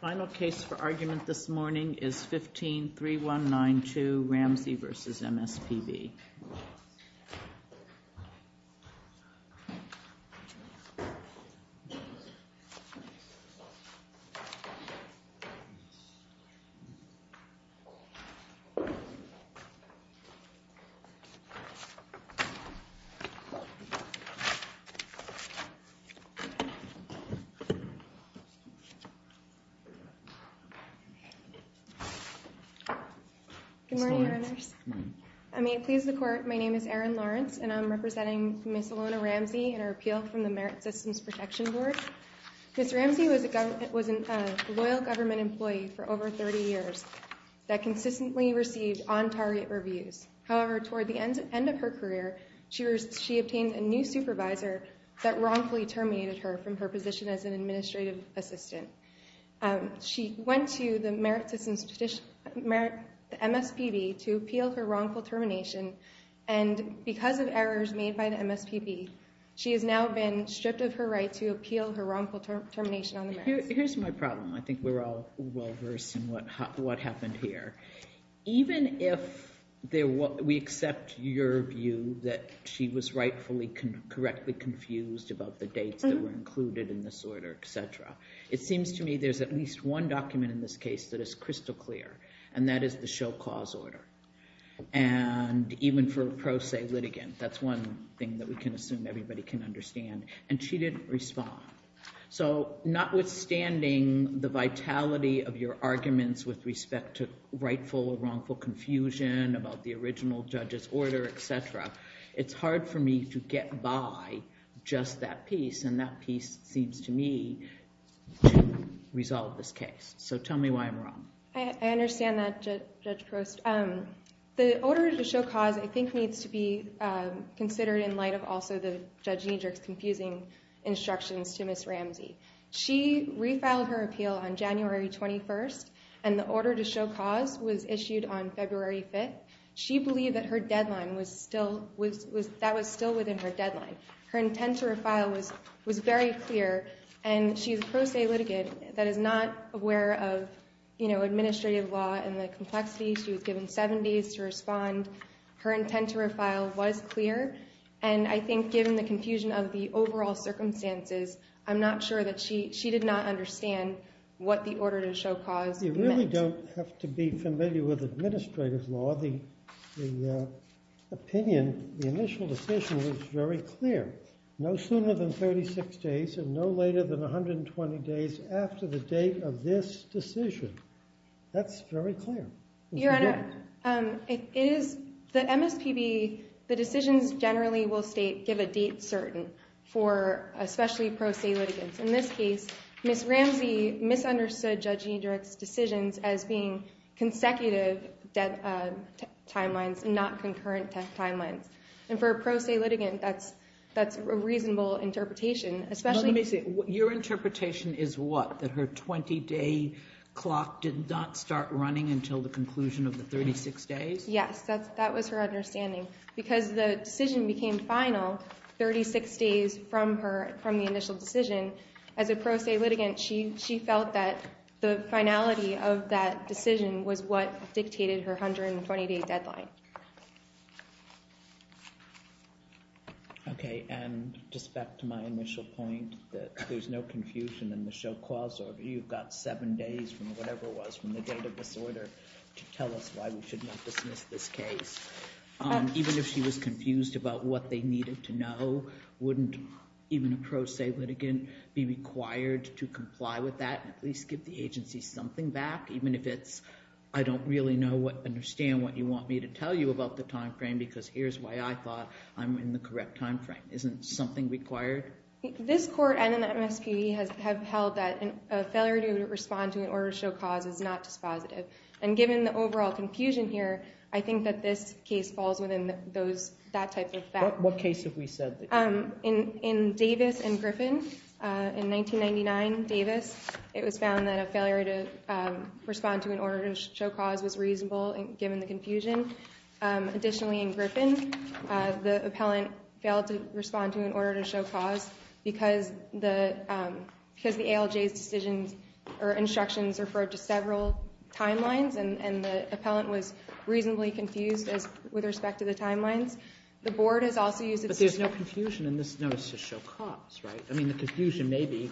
Final case for argument this morning is 15-3192 Ramsey v. MSPB Good morning, Your Honors. I may it please the Court, my name is Erin Lawrence and I'm representing Ms. Alona Ramsey in her appeal from the Merit Systems Protection Board. Ms. Ramsey was a loyal government employee for over 30 years that consistently received on-target reviews. However, toward the end of her career, she obtained a new supervisor that wrongfully terminated her from her position as an administrative assistant. She went to the Merit Systems MSPB to appeal her wrongful termination, and because of errors made by the MSPB, she has now been stripped of her right to appeal her wrongful termination on the merits. Here's my problem. I think we're all well-versed in what happened here. Even if we accept your view that she was rightfully correctly confused about the dates that were included in this order, etc., it seems to me there's at least one document in this case that is crystal clear, and that is the show cause order. And even for pro se litigant, that's one thing that we can assume everybody can understand, and she didn't respond. So not withstanding the vitality of your arguments with respect to rightful or wrongful confusion about the original judge's order, etc., it's hard for me to get by just that piece, and that piece seems to me to resolve this case. So tell me why I'm wrong. I understand that, Judge Prost. The order to show cause, I think, needs to be considered in light of also the Judge Niedrich's confusing instructions to Ms. Ramsey. She refiled her appeal on January 21st, and the order to show cause was issued on February 5th. She believed that her deadline was still within her deadline. Her intent to refile was very clear, and she's a pro se litigant that is not aware of administrative law and the complexity. She was given 70 days to respond. Her intent to refile was clear, and I think given the confusion of the overall circumstances, I'm not sure that she did not understand what the order to show cause meant. You really don't have to be familiar with administrative law. The opinion, the initial decision was very clear. No sooner than 36 days and no later than 120 days after the date of this decision. That's very clear. Your Honor, it is, the MSPB, the decisions generally will state give a date certain for especially pro se litigants. In this case, Ms. Ramsey misunderstood Judge Niedrich's decisions as being consecutive deadlines and not concurrent deadlines. And for a pro se litigant, that's a reasonable interpretation, especially Let me see. Your interpretation is what? That her 20 day clock did not start running until the conclusion of the 36 days? Yes, that was her understanding. Because the decision became final 36 days from the initial decision, as a pro se litigant, she felt that the finality of that decision was what dictated her 120 day deadline. Okay, and just back to my initial point that there's no confusion in the show cause order. Tell us why we should not dismiss this case. Even if she was confused about what they needed to know, wouldn't even a pro se litigant be required to comply with that? At least give the agency something back, even if it's, I don't really know what, understand what you want me to tell you about the time frame, because here's why I thought I'm in the correct time frame. Isn't something required? This court and the MSPB have held that a failure to respond to an order to show cause is not dispositive. And given the overall confusion here, I think that this case falls within that type of fact. What case have we said? In Davis and Griffin, in 1999, Davis, it was found that a failure to respond to an order to show cause was reasonable, given the confusion. Additionally, in Griffin, the appellant failed to respond to an order to show cause because the ALJ's decisions or instructions referred to several timelines, and the appellant was reasonably confused with respect to the timelines. The board has also used... But there's no confusion in this notice to show cause, right? I mean, the confusion may be,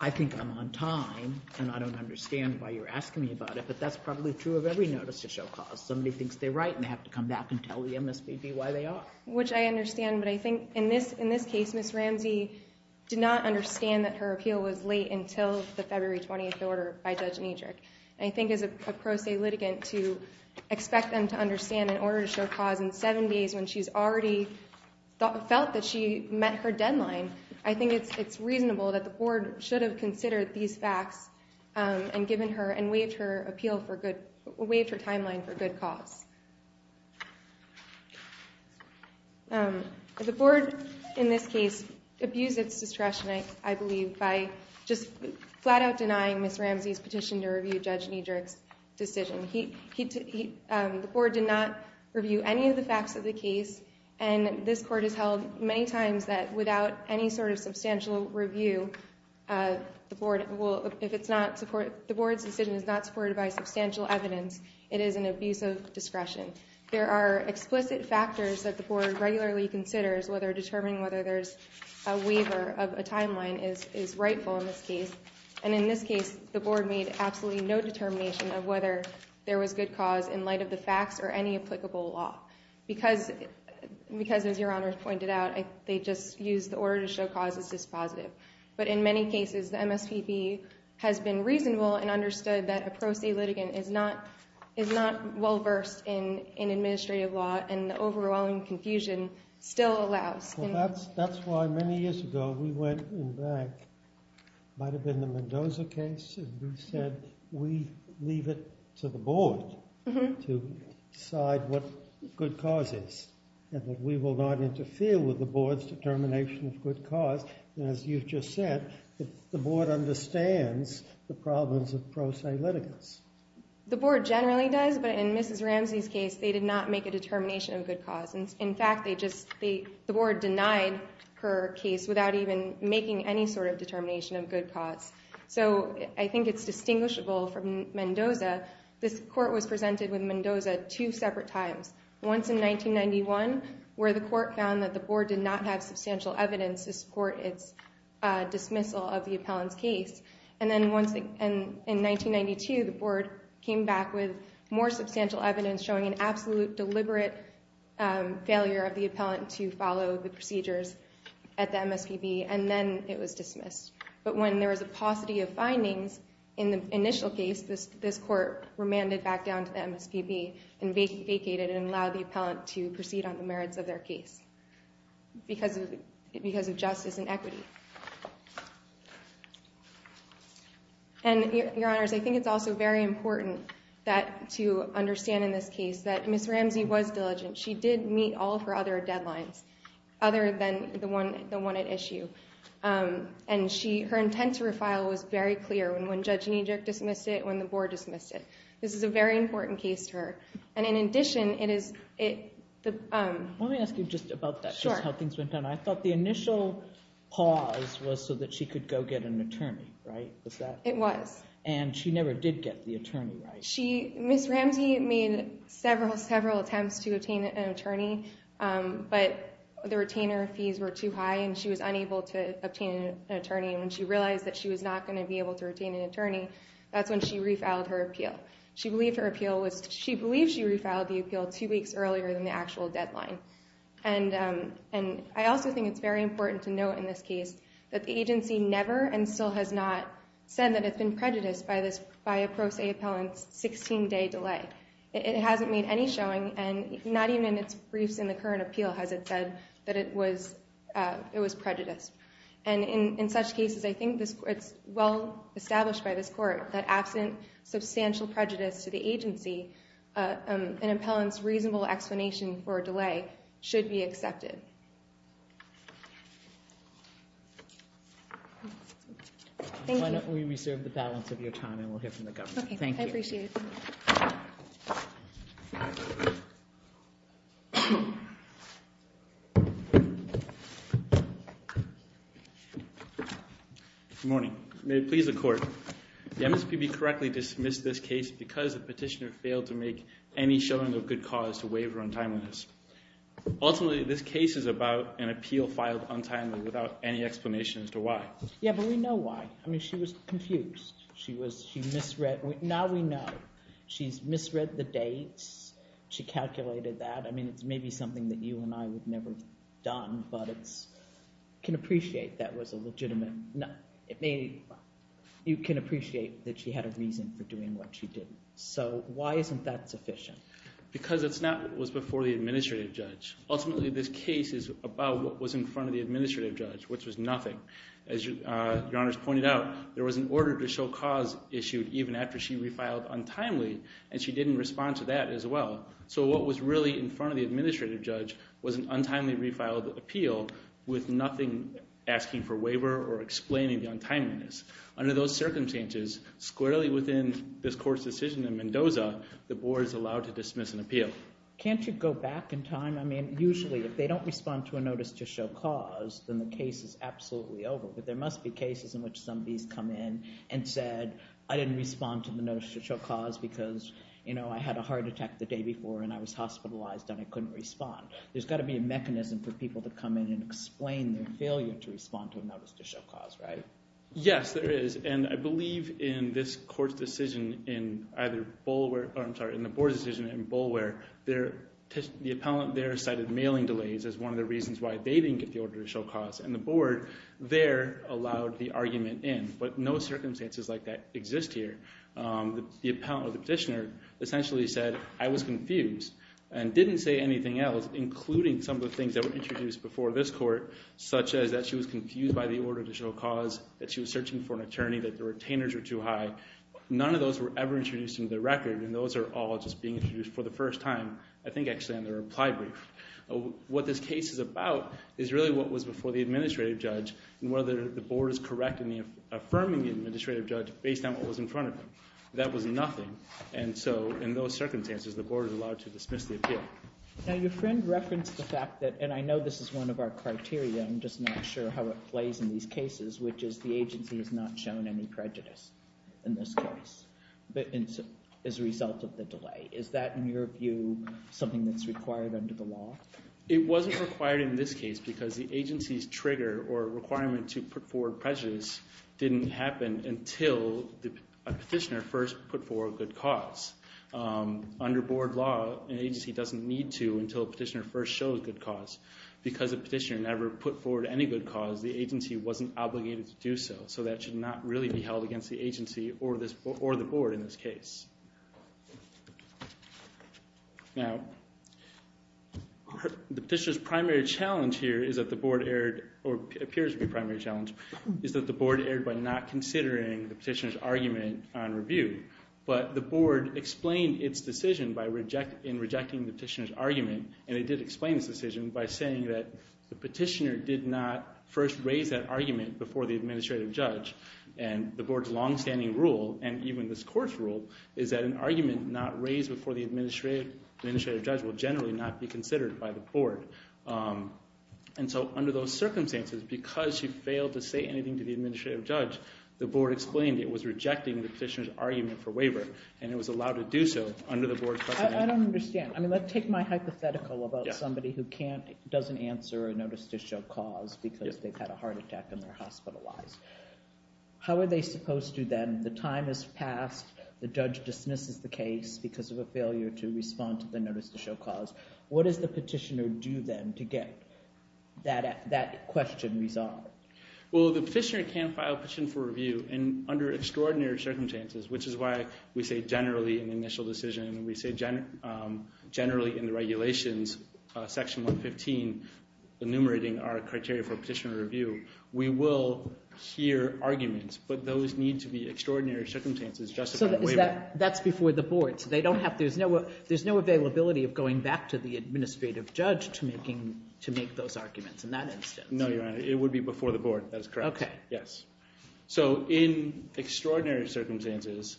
I think I'm on time, and I don't understand why you're asking me about it, but that's probably true of every notice to show cause. Somebody thinks they're right, and they have to come back and tell the MSPB why they are. Which I understand, but I think in this case, Ms. Ramsey did not understand that her appeal was late until the February 20th order by Judge Nedrick. And I think as a pro se litigant, to expect them to understand an order to show cause in seven days when she's already felt that she met her deadline, I think it's reasonable that the board should have considered these The board, in this case, abused its discretion, I believe, by just flat out denying Ms. Ramsey's petition to review Judge Nedrick's decision. The board did not review any of the facts of the case, and this Court has held many times that without any sort of substantial review, the board will... If it's not... The board's decision is not supported by substantial evidence. It is an abuse of discretion. There are explicit factors that the board regularly considers whether determining whether there's a waiver of a timeline is rightful in this case. And in this case, the board made absolutely no determination of whether there was good cause in light of the facts or any applicable law. Because, as Your Honor pointed out, they just used the order to show cause as dispositive. But in many cases, the MSPB has been reasonable and understood that a pro se litigant is not well-versed in administrative law, and the overwhelming confusion still allows... Well, that's why many years ago, we went in back, might have been the Mendoza case, and we said, we leave it to the board to decide what good cause is, and that we will not interfere with the board's determination of good cause. And as you've just said, the board understands the problems of pro se litigants. The board generally does, but in Mrs. Ramsey's case, they did not make a determination of good cause. In fact, they just... The board denied her case without even making any sort of determination of good cause. So I think it's distinguishable from Mendoza. This court was presented with Mendoza two separate times. Once in 1991, where the court found that the board did not have substantial evidence to support its dismissal of the appellant's case. And then once in 1992, the board came back with more substantial evidence showing an absolute deliberate failure of the appellant to follow the procedures at the MSPB, and then it was dismissed. But when there was a paucity of findings in the initial case, this court remanded back down to the MSPB and vacated and allowed the appellant to proceed on the merits of their case because of justice and equity. And your honors, I think it's also very important to understand in this case that Ms. Ramsey was diligent. She did meet all of her other deadlines other than the one at issue. And her intent to refile was very clear when Judge Nijic dismissed it, when the board dismissed it. This is a very important case to her. And in addition, it is the... Let me ask you just about that, just how things went down. I thought the initial pause was so that she could go get an attorney, right? Was that... It was. And she never did get the attorney, right? Ms. Ramsey made several, several attempts to obtain an attorney, but the retainer fees were too high and she was unable to obtain an attorney. And when she realized that she was not going to be able to retain an attorney, that's when she refiled her appeal. She believed her appeal was... She believed she refiled the appeal two weeks earlier than the actual deadline. And I also think it's very important to note in this case that the agency never and still has not said that it's been prejudiced by a pro se appellant's 16-day delay. It hasn't made any showing, and not even in its briefs in the current appeal has it said that it was prejudiced. And in such cases, I think it's well established by this court that absent substantial prejudice to the agency, an appellant's reasonable explanation for a delay should Thank you. We reserve the balance of your time and we'll hear from the governor. Thank you. Okay, I appreciate it. Good morning. May it please the court. The MSPB correctly dismissed this case because the petitioner failed to make any showing of good cause to waive her untimeliness. Ultimately, this case is about an appeal filed untimely without any explanation as to why. Yeah, but we know why. I mean, she was confused. She misread. Now we know. She's misread the dates. She calculated that. I mean, it's maybe something that you and I would never have done, but can appreciate that was a legitimate... You can appreciate that she had a reason for doing what she did. So why isn't that sufficient? Because it was before the administrative judge. Ultimately, this case is about what was in your honor's pointed out. There was an order to show cause issued even after she refiled untimely and she didn't respond to that as well. So what was really in front of the administrative judge was an untimely refiled appeal with nothing asking for waiver or explaining the untimeliness. Under those circumstances, squarely within this court's decision in Mendoza, the board is allowed to dismiss an appeal. Can't you go back in time? I mean, usually if they don't respond to a notice to show cause, then the case is absolutely over. But there must be cases in which somebody has come in and said, I didn't respond to the notice to show cause because I had a heart attack the day before and I was hospitalized and I couldn't respond. There's got to be a mechanism for people to come in and explain their failure to respond to a notice to show cause, right? Yes, there is. And I believe in this court's decision in either Boulware... I'm sorry, in the board's decision in Boulware, the appellant there cited mailing delays as one of the reasons why they didn't get the order to show cause. And the board there allowed the argument in. But no circumstances like that exist here. The appellant or the petitioner essentially said, I was confused and didn't say anything else, including some of the things that were introduced before this court, such as that she was confused by the order to show cause, that she was searching for an attorney, that the retainers were too high. None of those were ever introduced into the record. And those are all just being introduced for the is really what was before the administrative judge and whether the board is correct in affirming the administrative judge based on what was in front of them. That was nothing. And so in those circumstances, the board is allowed to dismiss the appeal. Now your friend referenced the fact that, and I know this is one of our criteria, I'm just not sure how it plays in these cases, which is the agency has not shown any prejudice in this case as a result of the delay. Is that, in your view, something that's required under the law? It wasn't required in this case because the agency's trigger or requirement to put forward prejudice didn't happen until a petitioner first put forward good cause. Under board law, an agency doesn't need to until a petitioner first shows good cause. Because a petitioner never put forward any good cause, the agency wasn't obligated to do so. So that should not really be held against the agency or the board in this case. Now, the petitioner's primary challenge here is that the board erred, or appears to be a primary challenge, is that the board erred by not considering the petitioner's argument on review. But the board explained its decision in rejecting the petitioner's argument, and it did explain its decision by saying that the petitioner did not first raise that argument before the administrative judge. And the board's longstanding rule, and even this court's rule, is that an argument not raised before the administrative judge will generally not be considered by the board. And so under those circumstances, because she failed to say anything to the administrative judge, the board explained it was rejecting the petitioner's argument for waiver, and it was allowed to do so under the board's precedent. I don't understand. I mean, let's take my hypothetical about somebody who can't, doesn't answer a notice to show cause because they've had a heart attack and they're hospitalized. How are they supposed to then, the time has passed, the judge dismisses the case because of a failure to respond to the notice to show cause. What does the petitioner do then to get that question resolved? Well, the petitioner can file a petition for review, and under extraordinary circumstances, which is why we say generally in the initial decision, and we say generally in the regulations, section 115, enumerating our criteria for petitioner review, we will hear arguments, but those need to be extraordinary circumstances just to get a waiver. So that's before the board, so they don't have, there's no availability of going back to the administrative judge to make those arguments in that instance. No, Your Honor, it would be before the board, that is correct. Okay. Yes. So in extraordinary circumstances,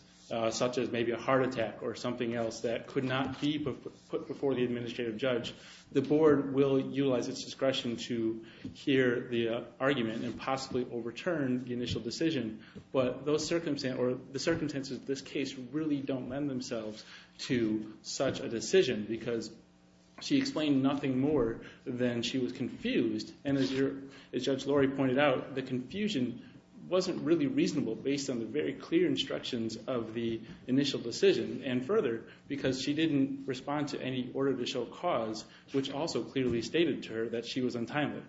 such as maybe a heart attack or something else that could not be put before the administrative judge, the board will utilize its discretion to hear the argument and possibly overturn the initial decision, but the circumstances of this case really don't lend themselves to such a decision because she explained nothing more than she was confused, and as Judge Lori pointed out, the confusion wasn't really reasonable based on the very clear instructions of the initial decision, and further, because she didn't respond to any order to show cause, which also clearly stated to her that she was untimely.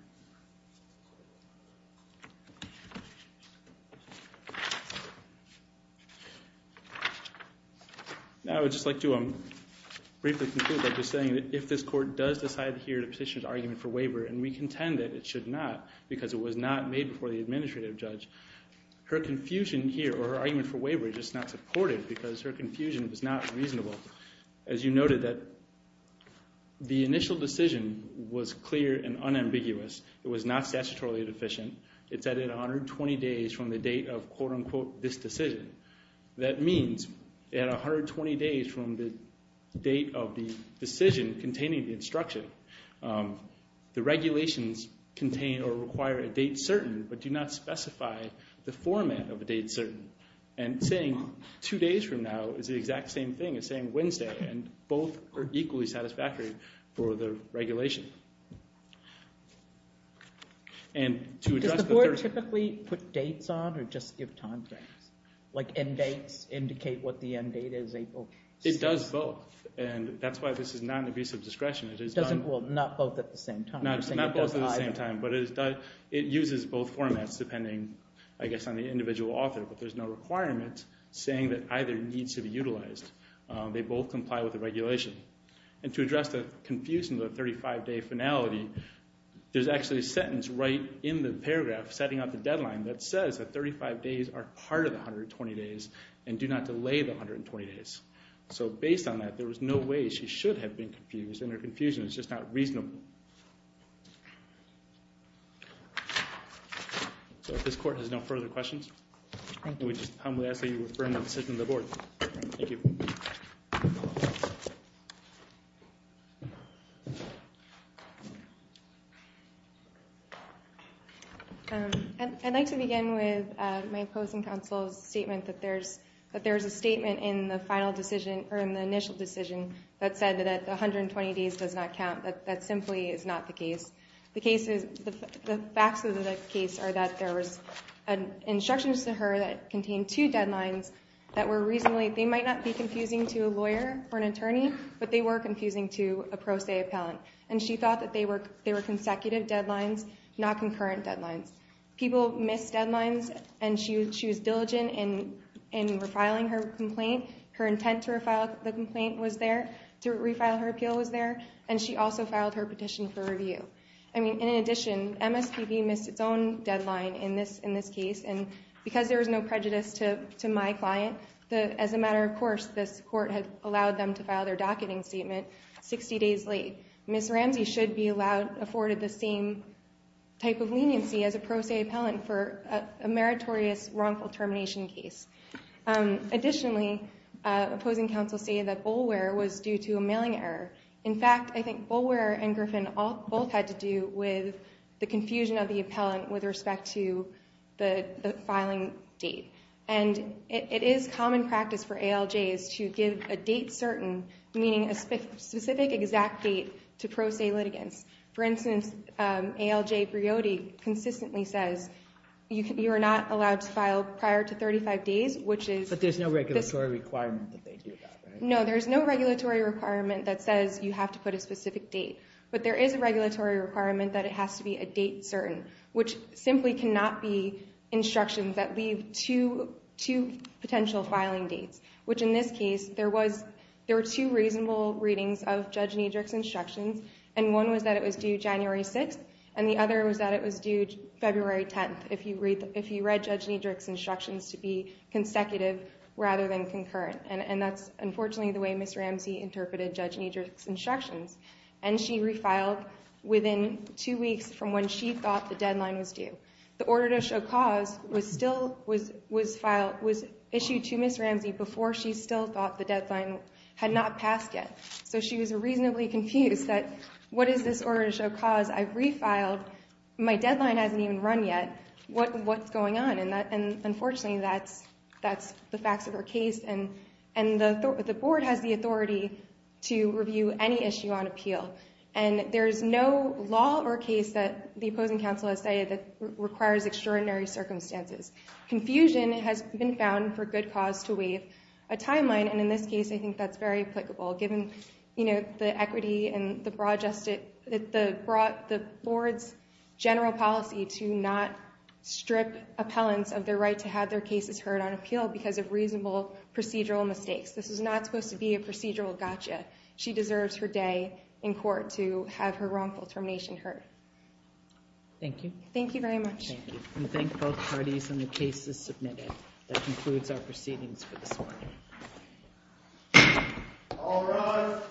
Now I would just like to briefly conclude by just saying that if this court does decide to hear the petitioner's argument for waiver, and we contend that it should not, because it was not made before the administrative judge, her confusion here, or her argument for waiver is just not supportive because her confusion was not reasonable. As you noted, the initial decision was clear and unambiguous. It was not statutorily deficient. It said it was 120 days from the date of quote-unquote this decision. That means at 120 days from the date of the decision containing the instruction, the regulations contain or require a date certain, but do not specify the format of a date certain. And saying two days from now is the exact same thing as saying Wednesday, and both are equally satisfactory for the regulation. Does the court typically put dates on or just give timeframes? Like end dates indicate what the end date is, April 6th? It does both, and that's why this is not an abuse of discretion. Well, not both at the same time. Not both at the same time, but it uses both formats depending, I guess, on the individual author, but there's no requirement saying that either needs to be utilized. They both comply with the regulation. And to address the confusion of the 35-day finality, there's actually a sentence right in the paragraph setting out the deadline that says that 35 days are part of the 120 days and do not delay the 120 days. So based on that, there is no way she should have been confused, and her confusion is just not reasonable. So if this court has no further questions, can we just humbly ask that you refer that decision to the board? Thank you. I'd like to begin with my opposing counsel's statement that there's a statement in the final decision, or in the initial decision, that said that the 120 days does not count. That simply is not the case. The facts of the case are that there was instructions to her that contained two deadlines that were reasonably, they might not be confusing to a lawyer or an attorney, but they were confusing to a pro se appellant. And she thought that they were consecutive deadlines, not concurrent deadlines. People miss deadlines, and she was diligent in refiling her complaint. Her intent to refile the complaint was there, to refile her appeal was there, and she also filed her petition for review. I mean, in addition, MSPB missed its own deadline in this case, and because there was no prejudice to my client, as a matter of course, this court had allowed them to file their docketing statement 60 days late. Ms. Ramsey should be allowed, afforded the same type of leniency as a pro se appellant for a meritorious wrongful termination case. Additionally, opposing counsel stated that Boulware was due to a mailing error. In fact, I think Boulware and Griffin both had to do with the confusion of the appellant with respect to the filing date. And it is common practice for ALJs to give a date certain, meaning a specific exact date to pro se litigants. For instance, ALJ Briody consistently says, you are not allowed to file prior to 35 days, which is... But there's no regulatory requirement that they do that, right? No, there's no regulatory requirement that says you have to put a specific date. But there is a regulatory requirement that it has to be a date certain, which simply cannot be instructions that leave two potential filing dates, which in this case, there were two reasonable readings of Judge Niedrich's instructions, and one was that it was due January 6th, and the other was that it was due February 10th, if you read Judge Niedrich's instructions to be consecutive rather than concurrent. And that's unfortunately the way Ms. Ramsey interpreted Judge Niedrich's instructions. And she refiled within two weeks from when she thought the deadline was due. The order to show cause was issued to Ms. Ramsey before she still thought the deadline had not passed yet. So she was reasonably confused that, what is this order to show cause? I've refiled. My deadline hasn't even run yet. What's going on? And unfortunately, that's the facts of her case. And the board has the authority to review any issue on appeal. And there's no law or case that the opposing counsel has stated that requires extraordinary circumstances. Confusion has been found for good cause to waive a timeline, and in this case, I think that's very applicable, given the equity and the board's general policy to not strip appellants of their right to have their cases heard on appeal because of reasonable procedural mistakes. This is not supposed to be a procedural gotcha. She deserves her day in court to have her wrongful termination heard. Thank you. Thank you very much. Thank you. And thank both parties on the cases submitted. That concludes our proceedings for this morning. All rise.